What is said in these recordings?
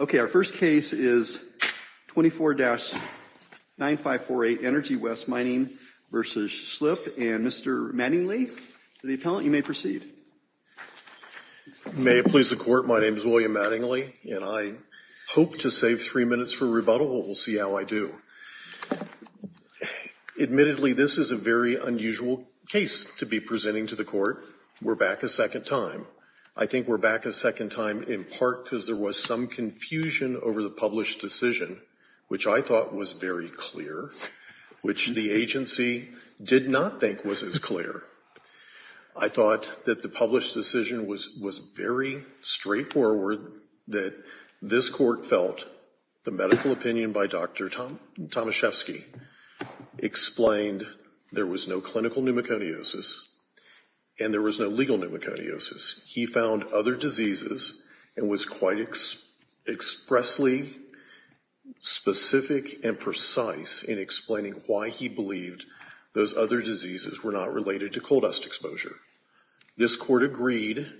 Okay, our first case is 24-9548 Energy West Mining v. Schilpp and Mr. Mattingly, the appellant, you may proceed. May it please the court, my name is William Mattingly and I hope to save three minutes for rebuttal, but we'll see how I do. Admittedly, this is a very unusual case to be presenting to the court. We're back a second time. I think we're back a second time in part because there was some confusion over the published decision, which I thought was very clear, which the agency did not think was as clear. I thought that the published decision was very straightforward, that this court felt the medical opinion by Dr. Tomaszewski explained there was no clinical pneumoconiosis and there was no legal pneumoconiosis. He found other diseases and was quite expressly specific and precise in explaining why he believed those other diseases were not related to coal dust exposure. This court agreed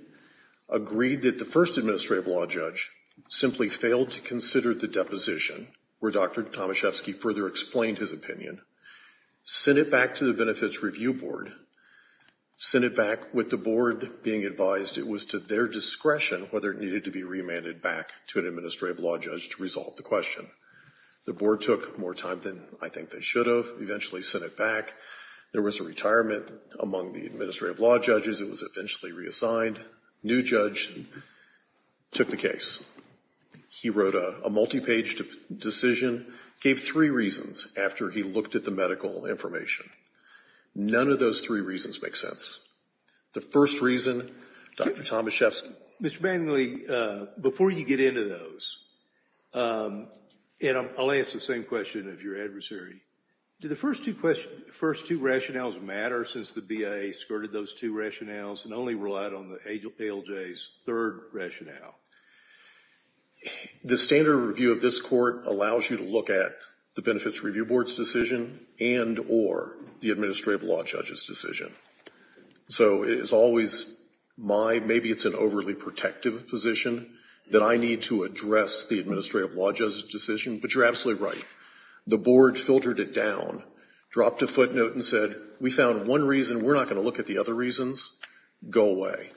that the first administrative law judge simply failed to consider the deposition where Dr. Tomaszewski further explained his opinion, sent it back to the benefits review board, sent it back with the board being advised it was to their discretion whether it needed to be remanded back to an administrative law judge to resolve the question. The board took more time than I think they should have, eventually sent it back. There was a retirement among the administrative law judges. It was eventually reassigned. New judge took the case. He wrote a multi-paged decision, gave three reasons after he looked at the medical information. None of those three reasons make sense. The first reason, Dr. Tomaszewski Mr. Manley, before you get into those, and I'll ask the same question of your adversary, do the first two rationales matter since the BIA skirted those two rationales and only relied on the ALJ's third rationale? The standard review of this court allows you to look at the benefits review board's decision and or the administrative law judge's decision. So it's always my, maybe it's an overly protective position that I need to address the administrative law judge's decision, but you're absolutely right. The board filtered it down, dropped a footnote and said we found one reason. We're not going to look at the other reasons. Go away.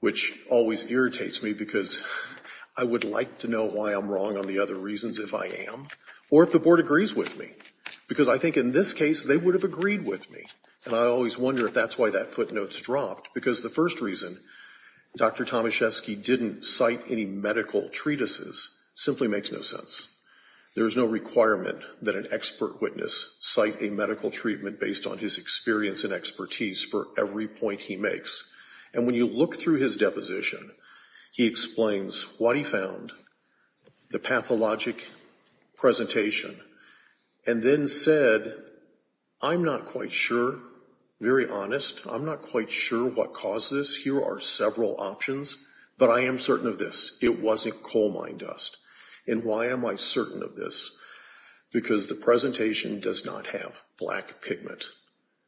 Which always irritates me because I would like to know why I'm wrong on the other reasons if I am or if the board agrees with me because I think in this case they would have agreed with me. And I always wonder if that's why that footnotes dropped because the first reason, Dr. Tomaszewski didn't cite any medical treatises simply makes no sense. There's no requirement that an expert witness cite a medical treatment based on his experience and expertise for every point he makes. And when you look through his deposition, he explains what he found, the pathologic presentation, and then said I'm not quite sure, very honest, I'm not quite sure what caused this. Here are several options, but I am certain of this. It wasn't coal mine dust. And why am I certain of this? Because the presentation does not have black pigment,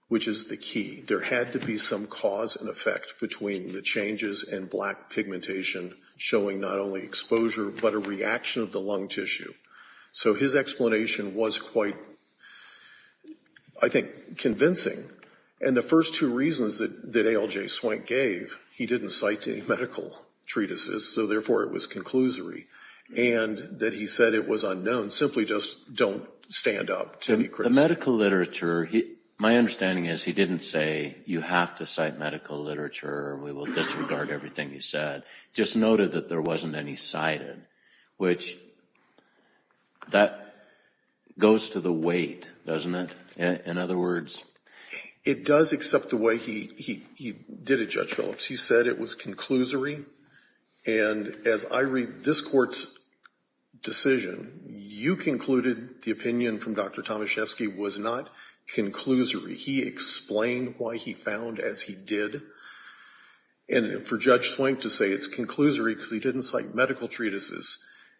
which is the key. There had to be some cause and effect between the changes and black pigmentation showing not only exposure but a reaction of the lung tissue. So his explanation was quite, I think, convincing. And the first two reasons that ALJ Swank gave, he didn't cite any medical treatises, so therefore it was conclusory. And that he said it was unknown simply just don't stand up to be criticized. But medical literature, my understanding is he didn't say you have to cite medical literature or we will disregard everything you said, just noted that there wasn't any cited, which that goes to the weight, doesn't it, in other words? It does accept the way he did it, Judge Phillips. He said it was conclusory. And as I read this Court's decision, you concluded the opinion from Dr. Tomaszewski was not conclusory. He explained why he found as he did. And for Judge Swank to say it's conclusory because he didn't cite medical treatises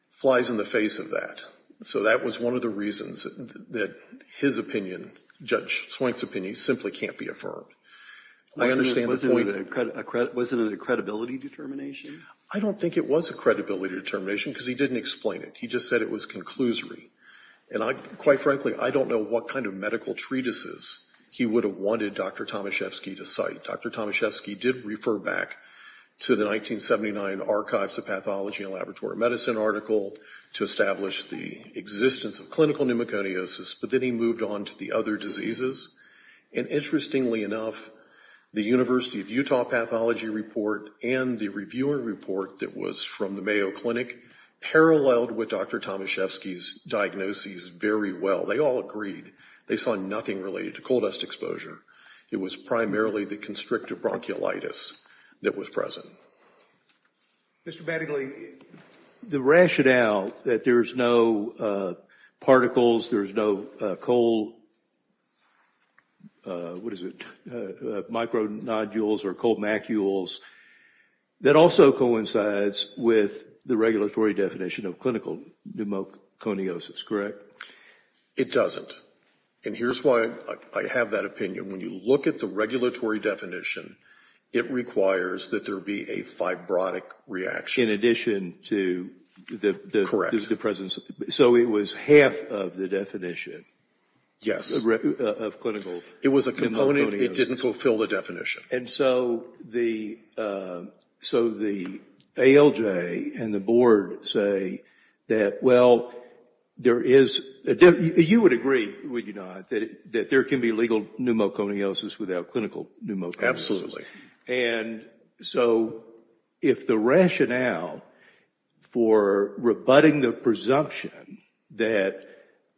flies in the face of that. So that was one of the reasons that his opinion, Judge Swank's opinion, simply can't be affirmed. I understand the point. Was it a credibility determination? I don't think it was a credibility determination because he didn't explain it. He just said it was conclusory. And quite frankly, I don't know what kind of medical treatises he would have wanted Dr. Tomaszewski to cite. Dr. Tomaszewski did refer back to the 1979 Archives of Pathology and Laboratory Medicine article to establish the existence of clinical pneumoconiosis, but then he moved on to the other diseases. And interestingly enough, the University of Utah Pathology report and the reviewer report that was from the Mayo Clinic paralleled with Dr. Tomaszewski's diagnoses very well. They all agreed they saw nothing related to coal dust exposure. It was primarily the constrictive bronchiolitis that was present. Mr. Mattingly, the rationale that there's no particles, there's no coal, what is it, micronodules or coal macules, that also coincides with the regulatory definition of clinical pneumoconiosis, correct? It doesn't. And here's why I have that opinion. When you look at the regulatory definition, it requires that there be a fibrotic reaction. In addition to the presence. So it was half of the definition. Yes. Of clinical pneumoconiosis. It was a component. It didn't fulfill the definition. And so the ALJ and the board say that, well, there is, you would agree, would you not, that there can be legal pneumoconiosis without clinical pneumoconiosis. Absolutely. And so if the rationale for rebutting the presumption that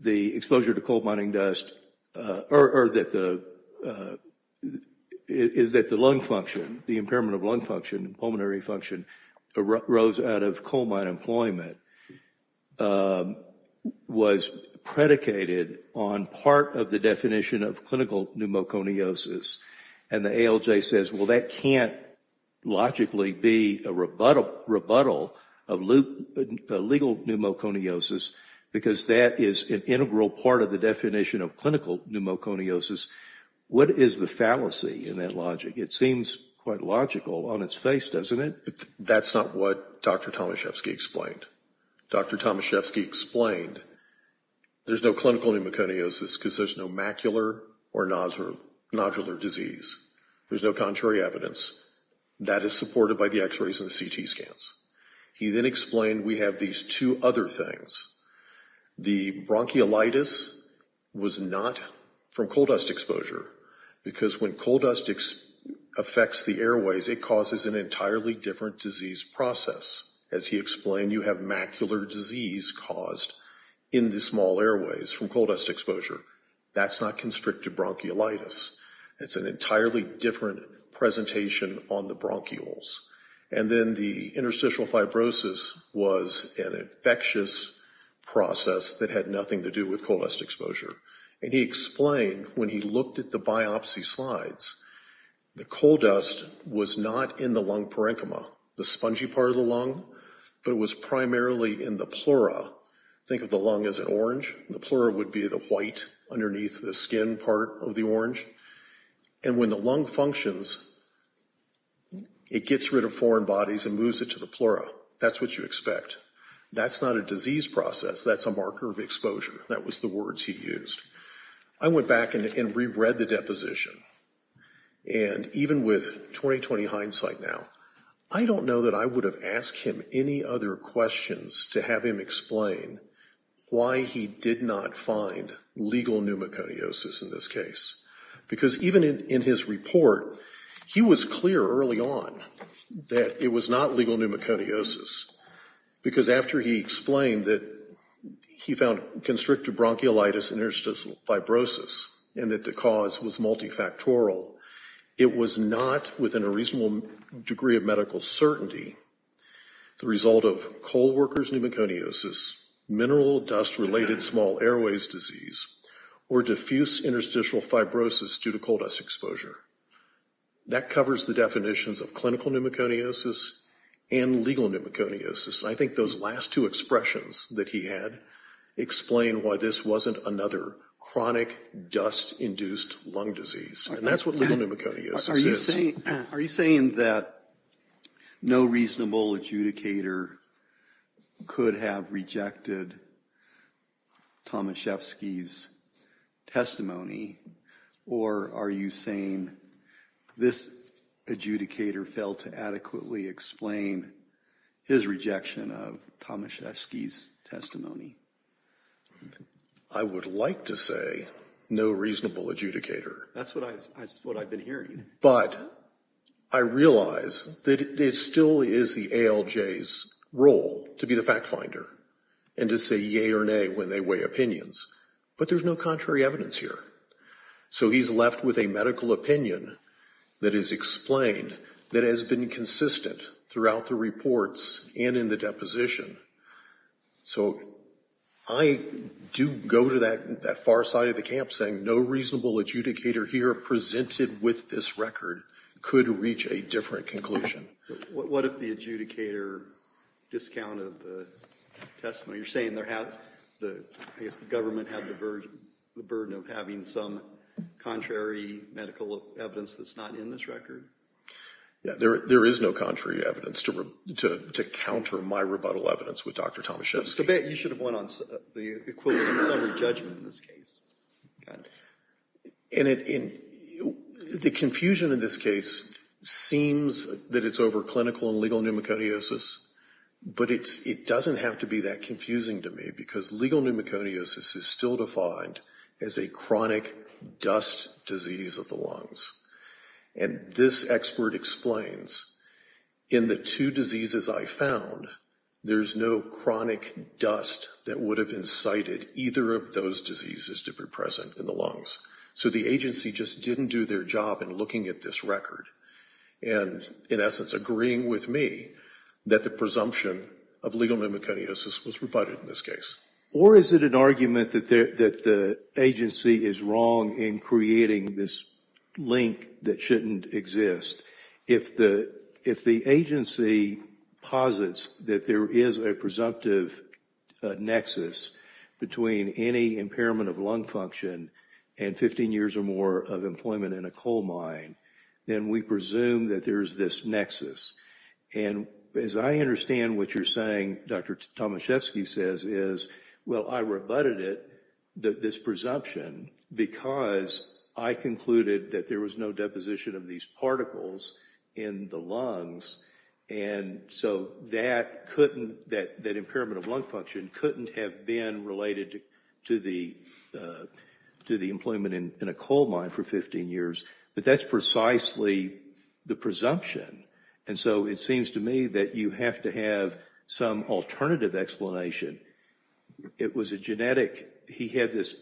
the exposure to coal mining dust, or that the, is that the lung function, the impairment of lung function, pulmonary function, arose out of coal mine employment, was predicated on part of the definition of clinical pneumoconiosis, and the ALJ says, well, that can't logically be a rebuttal of legal pneumoconiosis, because that is an integral part of the definition of clinical pneumoconiosis. What is the fallacy in that logic? It seems quite logical on its face, doesn't it? That's not what Dr. Tomaszewski explained. Dr. Tomaszewski explained there's no clinical pneumoconiosis because there's no macular or nodular disease. There's no contrary evidence. That is supported by the x-rays and the CT scans. He then explained we have these two other things. The bronchiolitis was not from coal dust exposure, because when coal dust affects the airways, it causes an entirely different disease process. As he explained, you have macular disease caused in the small airways from coal dust exposure. That's not constricted bronchiolitis. It's an entirely different presentation on the bronchioles. And then the interstitial fibrosis was an infectious process that had nothing to do with coal dust exposure. And he explained when he looked at the biopsy slides, the coal dust was not in the lung parenchyma, the spongy part of the lung, but it was primarily in the pleura. Think of the lung as an orange. The pleura would be the white underneath the skin part of the orange. And when the lung functions, it gets rid of foreign bodies and moves it to the pleura. That's what you expect. That's not a disease process. That's a marker of exposure. That was the words he used. I went back and reread the deposition. And even with 20-20 hindsight now, I don't know that I would have asked him any other questions to have him explain why he did not find legal pneumoconiosis in this case. Because even in his report, he was clear early on that it was not legal pneumoconiosis. Because after he explained that he found constricted bronchiolitis interstitial fibrosis and that the cause was multifactorial, it was not within a reasonable degree of medical certainty the result of coal workers' pneumoconiosis, mineral dust-related small airways disease, or diffuse interstitial fibrosis due to coal dust exposure. That covers the definitions of clinical pneumoconiosis and legal pneumoconiosis. I think those last two expressions that he had explain why this wasn't another chronic dust-induced lung disease. And that's what legal pneumoconiosis is. Are you saying that no reasonable adjudicator could have rejected Tomaszewski's testimony? Or are you saying this adjudicator failed to adequately explain his rejection of Tomaszewski's testimony? I would like to say no reasonable adjudicator. That's what I've been hearing. But I realize that it still is the ALJ's role to be the fact finder and to say yea or nay when they weigh opinions. But there's no contrary evidence here. So he's left with a medical opinion that is explained that has been consistent throughout the reports and in the deposition. So I do go to that far side of the camp saying no reasonable adjudicator here presented with this record could reach a different conclusion. What if the adjudicator discounted the testimony? You're saying the government had the burden of having some contrary medical evidence that's not in this record? There is no contrary evidence to counter my rebuttal evidence with Dr. Tomaszewski. I bet you should have went on the equivalent summary judgment in this case. And the confusion in this case seems that it's over clinical and legal pneumoconiosis. But it doesn't have to be that confusing to me because legal pneumoconiosis is still defined as a chronic dust disease of the lungs. And this expert explains in the two diseases I found there's no chronic dust that would have incited either of those diseases to be present in the lungs. So the agency just didn't do their job in looking at this record. And in essence agreeing with me that the presumption of legal pneumoconiosis was rebutted in this case. Or is it an argument that the agency is wrong in creating this link that shouldn't exist? If the agency posits that there is a presumptive nexus between any impairment of lung function and 15 years or more of employment in a coal mine, then we presume that there is this nexus. And as I understand what you're saying, Dr. Tomaszewski says, is, well, I rebutted it, this presumption, because I concluded that there was no deposition of these particles in the lungs. And so that impairment of lung function couldn't have been related to the employment in a coal mine for 15 years. But that's precisely the presumption. And so it seems to me that you have to have some alternative explanation. It was a genetic, he had this,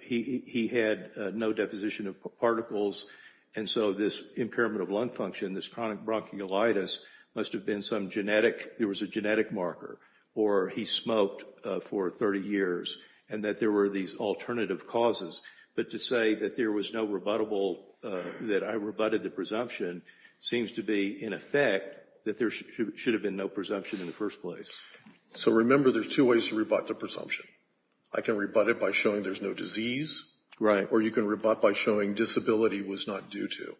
he had no deposition of particles. And so this impairment of lung function, this chronic bronchiolitis, must have been some genetic, there was a genetic marker or he smoked for 30 years and that there were these alternative causes. But to say that there was no rebuttable, that I rebutted the presumption, seems to be, in effect, that there should have been no presumption in the first place. So remember, there's two ways to rebut the presumption. I can rebut it by showing there's no disease. Right. Or you can rebut by showing disability was not due to.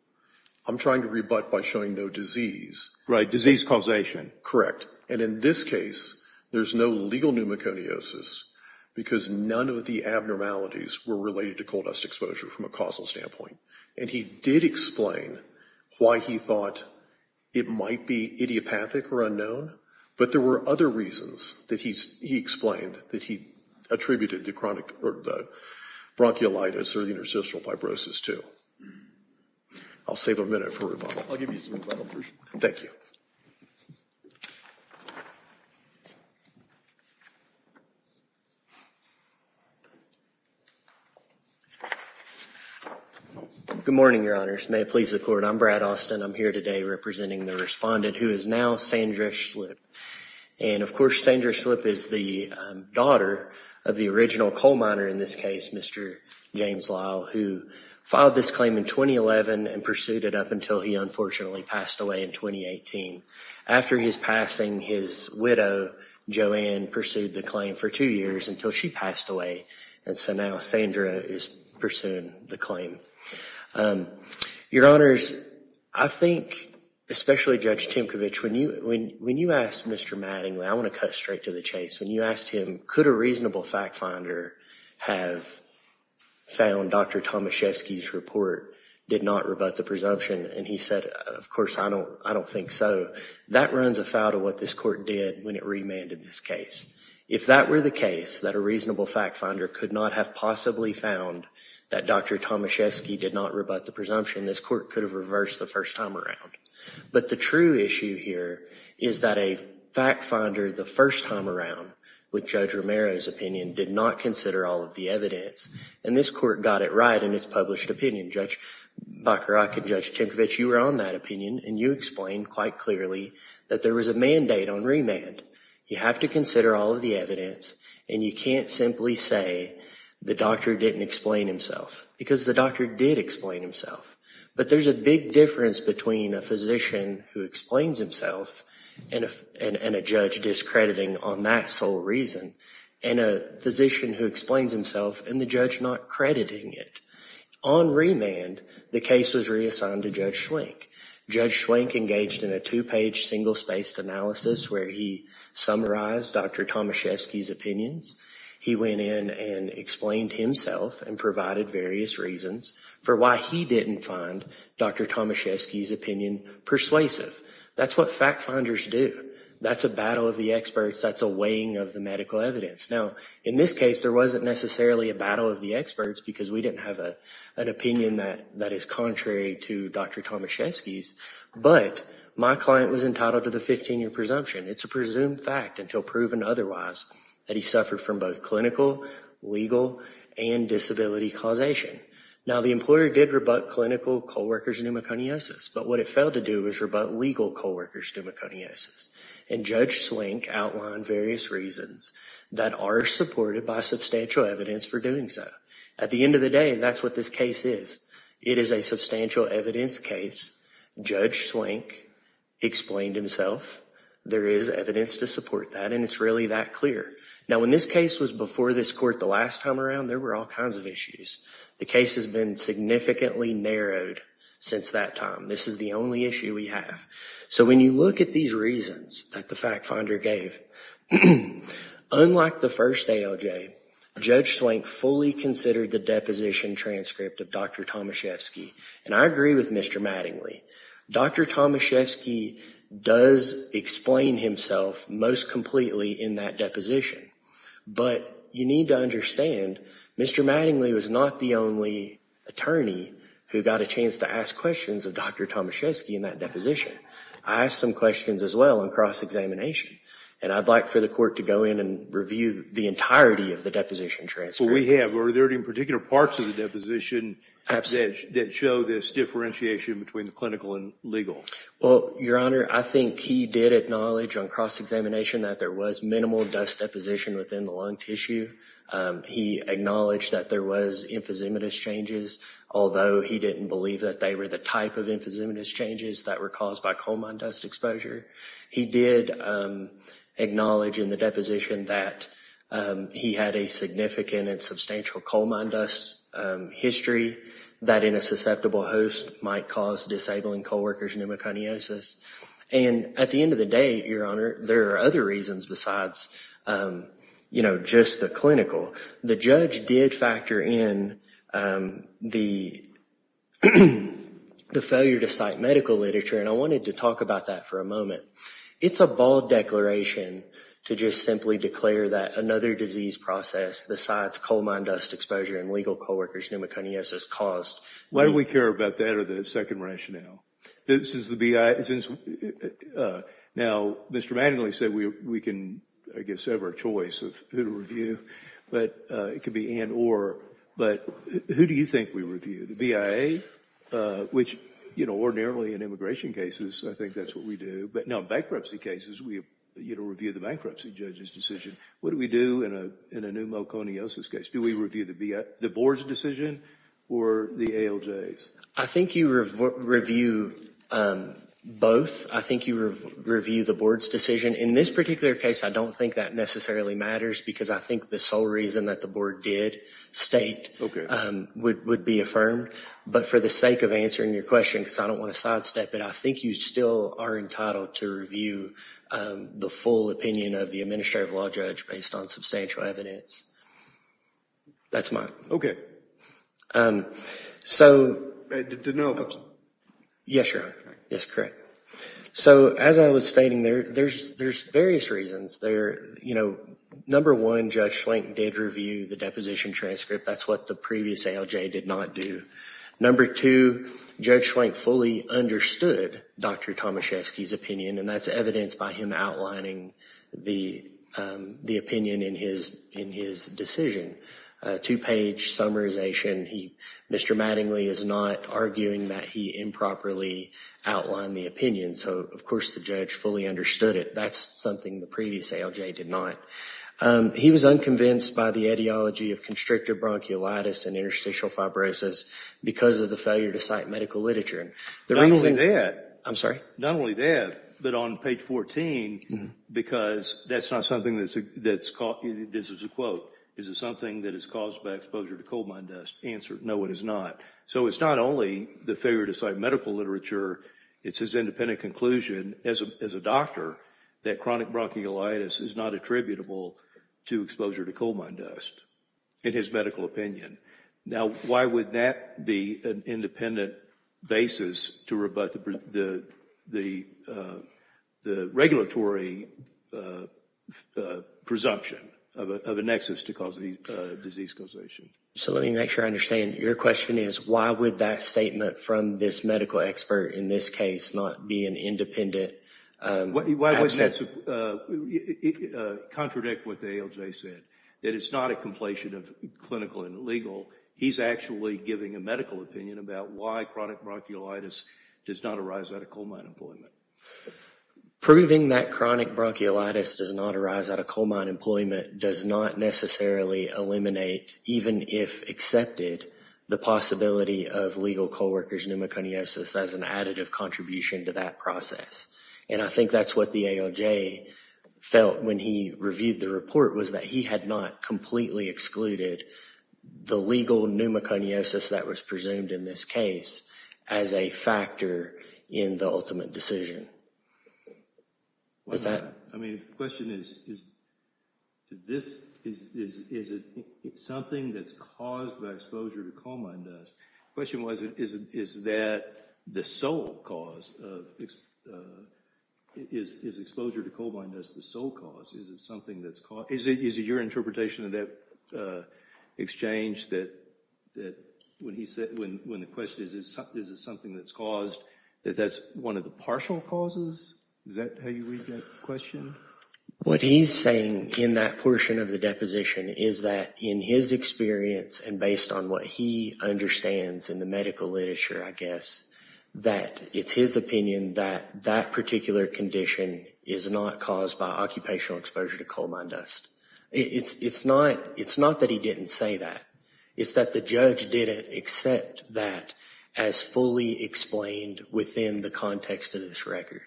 I'm trying to rebut by showing no disease. Right, disease causation. Correct. And in this case, there's no legal pneumoconiosis because none of the abnormalities were related to coal dust exposure from a causal standpoint. And he did explain why he thought it might be idiopathic or unknown, but there were other reasons that he explained that he attributed the bronchiolitis or the interstitial fibrosis to. I'll save a minute for rebuttal. I'll give you some rebuttal first. Thank you. Good morning, Your Honors. May it please the Court. I'm Brad Austin. I'm here today representing the respondent who is now Sandra Schlipp. And, of course, Sandra Schlipp is the daughter of the original coal miner in this case, Mr. James Lyle, who filed this claim in 2011 and pursued it up until he unfortunately passed away in 2018. After his passing, his widow, Joanne, pursued the claim for two years until she passed away. And so now Sandra is pursuing the claim. Your Honors, I think, especially Judge Timkovich, when you asked Mr. Mattingly, I want to cut straight to the chase. When you asked him, could a reasonable fact finder have found Dr. Tomaszewski's report did not rebut the presumption? And he said, of course, I don't think so. That runs afoul of what this Court did when it remanded this case. If that were the case, that a reasonable fact finder could not have possibly found that Dr. Tomaszewski did not rebut the presumption, this Court could have reversed the first time around. But the true issue here is that a fact finder the first time around, with Judge Romero's opinion, did not consider all of the evidence. And this Court got it right in its published opinion. Judge Bacharach and Judge Timkovich, you were on that opinion, and you explained quite clearly that there was a mandate on remand. You have to consider all of the evidence, and you can't simply say the doctor didn't explain himself, because the doctor did explain himself. But there's a big difference between a physician who explains himself and a judge discrediting on that sole reason, and a physician who explains himself and the judge not crediting it. On remand, the case was reassigned to Judge Schwenk. Judge Schwenk engaged in a two-page, single-spaced analysis where he summarized Dr. Tomaszewski's opinions. He went in and explained himself and provided various reasons for why he didn't find Dr. Tomaszewski's opinion persuasive. That's what fact finders do. That's a battle of the experts. That's a weighing of the medical evidence. Now, in this case, there wasn't necessarily a battle of the experts because we didn't have an opinion that is contrary to Dr. Tomaszewski's, but my client was entitled to the 15-year presumption. It's a presumed fact until proven otherwise that he suffered from both clinical, legal, and disability causation. Now, the employer did rebut clinical co-workers pneumoconiosis, but what it failed to do was rebut legal co-workers pneumoconiosis, and Judge Schwenk outlined various reasons that are supported by substantial evidence for doing so. At the end of the day, that's what this case is. It is a substantial evidence case. Judge Schwenk explained himself. There is evidence to support that, and it's really that clear. Now, when this case was before this court the last time around, there were all kinds of issues. The case has been significantly narrowed since that time. This is the only issue we have. So when you look at these reasons that the fact finder gave, unlike the first ALJ, Judge Schwenk fully considered the deposition transcript of Dr. Tomaszewski, and I agree with Mr. Mattingly. Dr. Tomaszewski does explain himself most completely in that deposition, but you need to understand Mr. Mattingly was not the only attorney who got a chance to ask questions of Dr. Tomaszewski in that deposition. I asked some questions as well in cross-examination, and I'd like for the court to go in and review the entirety of the deposition transcript. Well, we have. Are there any particular parts of the deposition that show this differentiation between the clinical and legal? Well, Your Honor, I think he did acknowledge on cross-examination that there was minimal dust deposition within the lung tissue. He acknowledged that there was emphysematous changes, although he didn't believe that they were the type of emphysematous changes that were caused by coal mine dust exposure. He did acknowledge in the deposition that he had a significant and substantial coal mine dust history that in a susceptible host might cause disabling co-workers pneumoconiosis. And at the end of the day, Your Honor, there are other reasons besides, you know, just the clinical. The judge did factor in the failure to cite medical literature, and I wanted to talk about that for a moment. It's a bold declaration to just simply declare that another disease process besides coal mine dust exposure and legal co-workers pneumoconiosis caused. Why do we care about that or the second rationale? Now, Mr. Mattingly said we can, I guess, have our choice of who to review, but it could be and, or. But who do you think we review? The BIA, which, you know, ordinarily in immigration cases, I think that's what we do. But now in bankruptcy cases, we review the bankruptcy judge's decision. What do we do in a pneumoconiosis case? Do we review the board's decision or the ALJ's? I think you review both. I think you review the board's decision. In this particular case, I don't think that necessarily matters because I think the sole reason that the board did state would be affirmed. But for the sake of answering your question, because I don't want to sidestep it, I think you still are entitled to review the full opinion of the administrative law judge based on substantial evidence. That's mine. So, as I was stating, there's various reasons. Number one, Judge Schlenk did review the deposition transcript. That's what the previous ALJ did not do. Number two, Judge Schlenk fully understood Dr. Tomaszewski's opinion, and that's evidenced by him outlining the opinion in his decision. Two-page summarization. Mr. Mattingly is not arguing that he improperly outlined the opinion. So, of course, the judge fully understood it. That's something the previous ALJ did not. He was unconvinced by the ideology of constrictor bronchiolitis and interstitial fibrosis because of the failure to cite medical literature. Not only that. I'm sorry? Not only that, but on page 14, because that's not something that's caught, this is a quote, is it something that is caused by exposure to coal mine dust? Answer, no, it is not. So, it's not only the failure to cite medical literature, it's his independent conclusion as a doctor that chronic bronchiolitis is not attributable to exposure to coal mine dust in his medical opinion. Now, why would that be an independent basis to rebut the regulatory presumption of a nexus to cause disease causation? So, let me make sure I understand. Your question is, why would that statement from this medical expert in this case not be an independent? Why wouldn't that contradict what the ALJ said? That it's not a completion of clinical and legal. He's actually giving a medical opinion about why chronic bronchiolitis does not arise out of coal mine employment. Proving that chronic bronchiolitis does not arise out of coal mine employment does not necessarily eliminate, even if accepted, the possibility of legal coal workers pneumoconiosis as an additive contribution to that process. And I think that's what the ALJ felt when he reviewed the report, was that he had not completely excluded the legal pneumoconiosis that was presumed in this case as a factor in the ultimate decision. What's that? I mean, the question is, is it something that's caused by exposure to coal mine dust? The question was, is that the sole cause? Is exposure to coal mine dust the sole cause? Is it something that's caused? Is it your interpretation of that exchange that when the question is, is it something that's caused, that that's one of the partial causes? Is that how you read that question? What he's saying in that portion of the deposition is that in his experience, and based on what he understands in the medical literature, I guess, that it's his opinion that that particular condition is not caused by occupational exposure to coal mine dust. It's not that he didn't say that. It's that the judge didn't accept that as fully explained within the context of this record.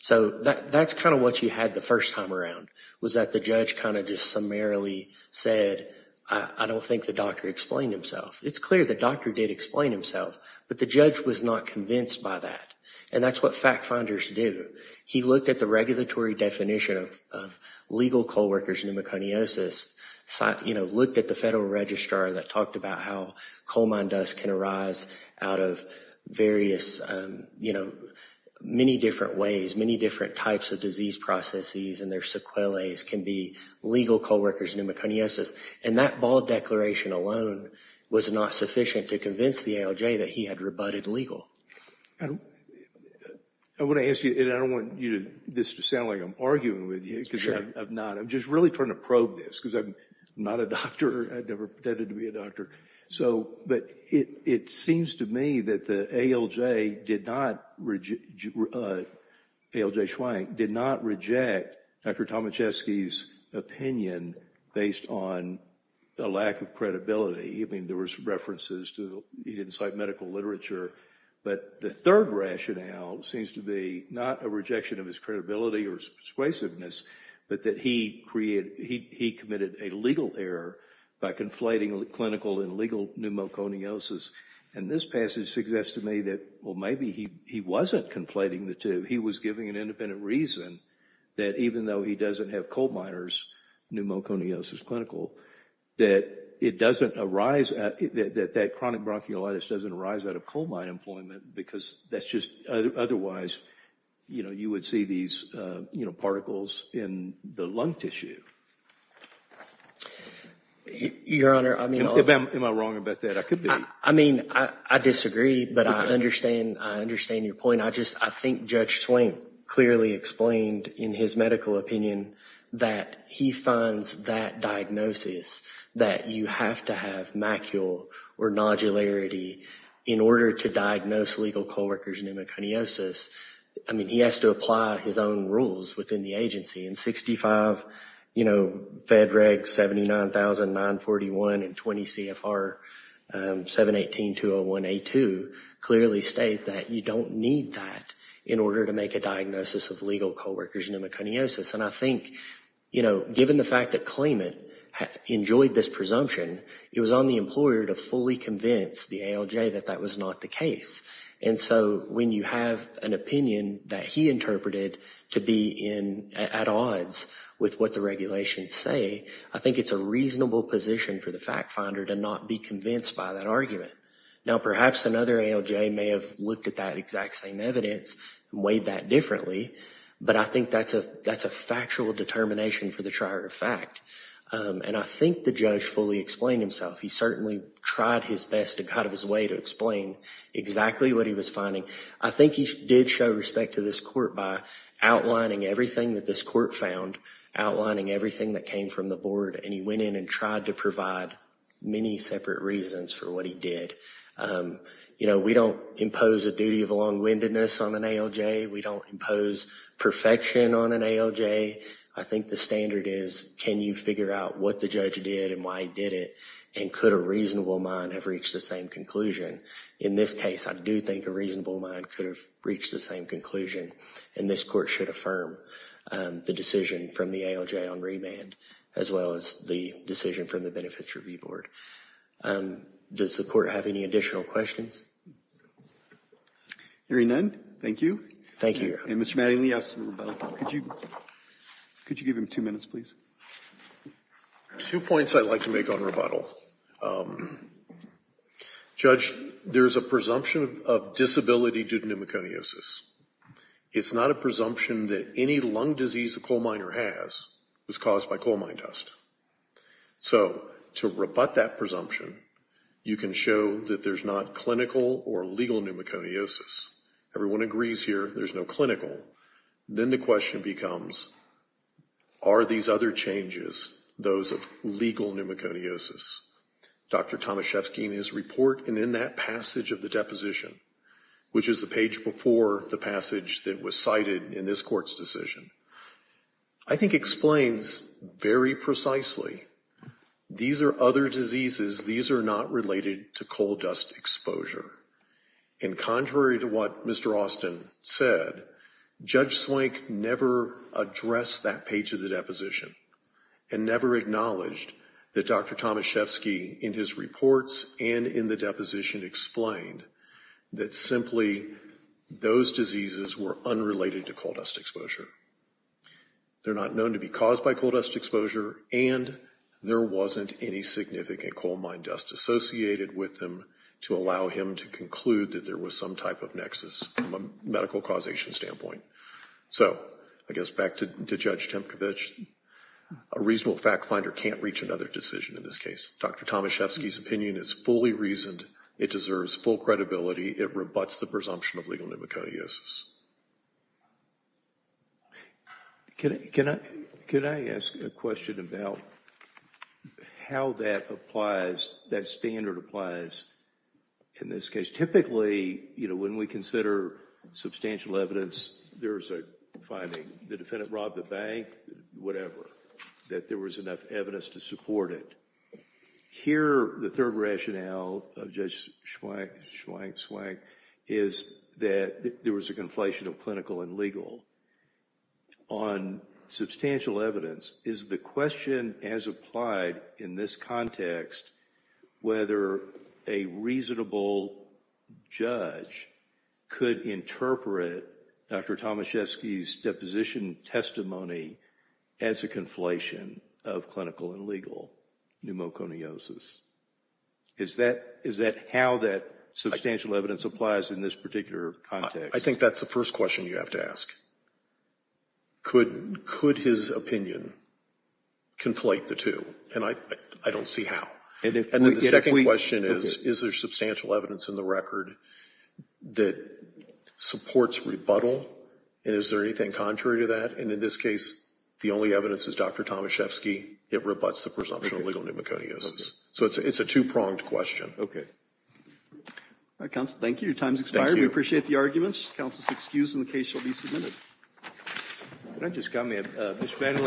So that's kind of what you had the first time around, was that the judge kind of just summarily said, I don't think the doctor explained himself. It's clear the doctor did explain himself, but the judge was not convinced by that. And that's what fact finders do. He looked at the regulatory definition of legal coal workers' pneumoconiosis, looked at the Federal Registrar that talked about how coal mine dust can arise out of various, many different ways, many different types of disease processes, and their sequelaes can be legal coal workers' pneumoconiosis. And that bald declaration alone was not sufficient to convince the ALJ that he had rebutted legal. I want to ask you, and I don't want this to sound like I'm arguing with you, because I'm not. I'm really trying to probe this, because I'm not a doctor. I never pretended to be a doctor. But it seems to me that the ALJ did not reject Dr. Tomaszewski's opinion based on a lack of credibility. I mean, there were some references to he didn't cite medical literature. But the third rationale seems to be not a rejection of his credibility or persuasiveness, but that he committed a legal error by conflating clinical and legal pneumoconiosis. And this passage suggests to me that, well, maybe he wasn't conflating the two. He was giving an independent reason that even though he doesn't have coal miners' pneumoconiosis clinical, that it doesn't arise, that chronic bronchiolitis doesn't arise out of coal mine employment, because that's just otherwise you would see these particles in the lung tissue. Your Honor, I mean— Am I wrong about that? I could be. I mean, I disagree, but I understand your point. I think Judge Swank clearly explained in his medical opinion that he finds that diagnosis, that you have to have macule or nodularity in order to diagnose legal co-workers' pneumoconiosis. I mean, he has to apply his own rules within the agency. And 65, you know, Fed Reg 79941 and 20 CFR 718-201A2 clearly state that you don't need that in order to make a diagnosis of legal co-workers' pneumoconiosis. And I think, you know, given the fact that Klayman enjoyed this presumption, it was on the employer to fully convince the ALJ that that was not the case. And so when you have an opinion that he interpreted to be at odds with what the regulations say, I think it's a reasonable position for the fact finder to not be convinced by that argument. Now, perhaps another ALJ may have looked at that exact same evidence and weighed that differently, but I think that's a factual determination for the trier of fact. And I think the judge fully explained himself. He certainly tried his best and got out of his way to explain exactly what he was finding. I think he did show respect to this court by outlining everything that this court found, outlining everything that came from the board, and he went in and tried to provide many separate reasons for what he did. You know, we don't impose a duty of long-windedness on an ALJ. We don't impose perfection on an ALJ. I think the standard is can you figure out what the judge did and why he did it, and could a reasonable mind have reached the same conclusion? In this case, I do think a reasonable mind could have reached the same conclusion, and this court should affirm the decision from the ALJ on remand, as well as the decision from the Benefits Review Board. Does the court have any additional questions? Hearing none, thank you. Thank you. And Mr. Mattingly, I ask for rebuttal. Could you give him two minutes, please? Two points I'd like to make on rebuttal. Judge, there's a presumption of disability due to pneumoconiosis. It's not a presumption that any lung disease a coal miner has was caused by coal mine dust. So to rebut that presumption, you can show that there's not clinical or legal pneumoconiosis. Everyone agrees here there's no clinical. Then the question becomes, are these other changes those of legal pneumoconiosis? Dr. Tomaszewski in his report and in that passage of the deposition, which is the page before the passage that was cited in this court's decision, I think explains very precisely these are other diseases. These are not related to coal dust exposure. And contrary to what Mr. Austin said, Judge Swank never addressed that page of the deposition and never acknowledged that Dr. Tomaszewski in his reports and in the deposition explained that simply those diseases were unrelated to coal dust exposure. They're not known to be caused by coal dust exposure and there wasn't any significant coal mine dust associated with them to allow him to conclude that there was some type of nexus from a medical causation standpoint. So I guess back to Judge Tempkowicz, a reasonable fact finder can't reach another decision in this case. Dr. Tomaszewski's opinion is fully reasoned. It deserves full credibility. It rebuts the presumption of legal pneumoconiosis. Can I ask a question about how that applies, that standard applies in this case? Typically, you know, when we consider substantial evidence, there's a finding, the defendant robbed the bank, whatever, that there was enough evidence to support it. Here, the third rationale of Judge Swank is that there was a conflation of clinical and legal. On substantial evidence, is the question as applied in this context whether a reasonable judge could interpret Dr. Tomaszewski's deposition testimony as a conflation of clinical and legal pneumoconiosis? Is that how that substantial evidence applies in this particular context? I think that's the first question you have to ask. Could his opinion conflate the two? And I don't see how. And the second question is, is there substantial evidence in the record that supports rebuttal, and is there anything contrary to that? And in this case, the only evidence is Dr. Tomaszewski. It rebuts the presumption of legal pneumoconiosis. So it's a two-pronged question. Thank you. Your time has expired. We appreciate the arguments. Counsel is excused, and the case shall be submitted.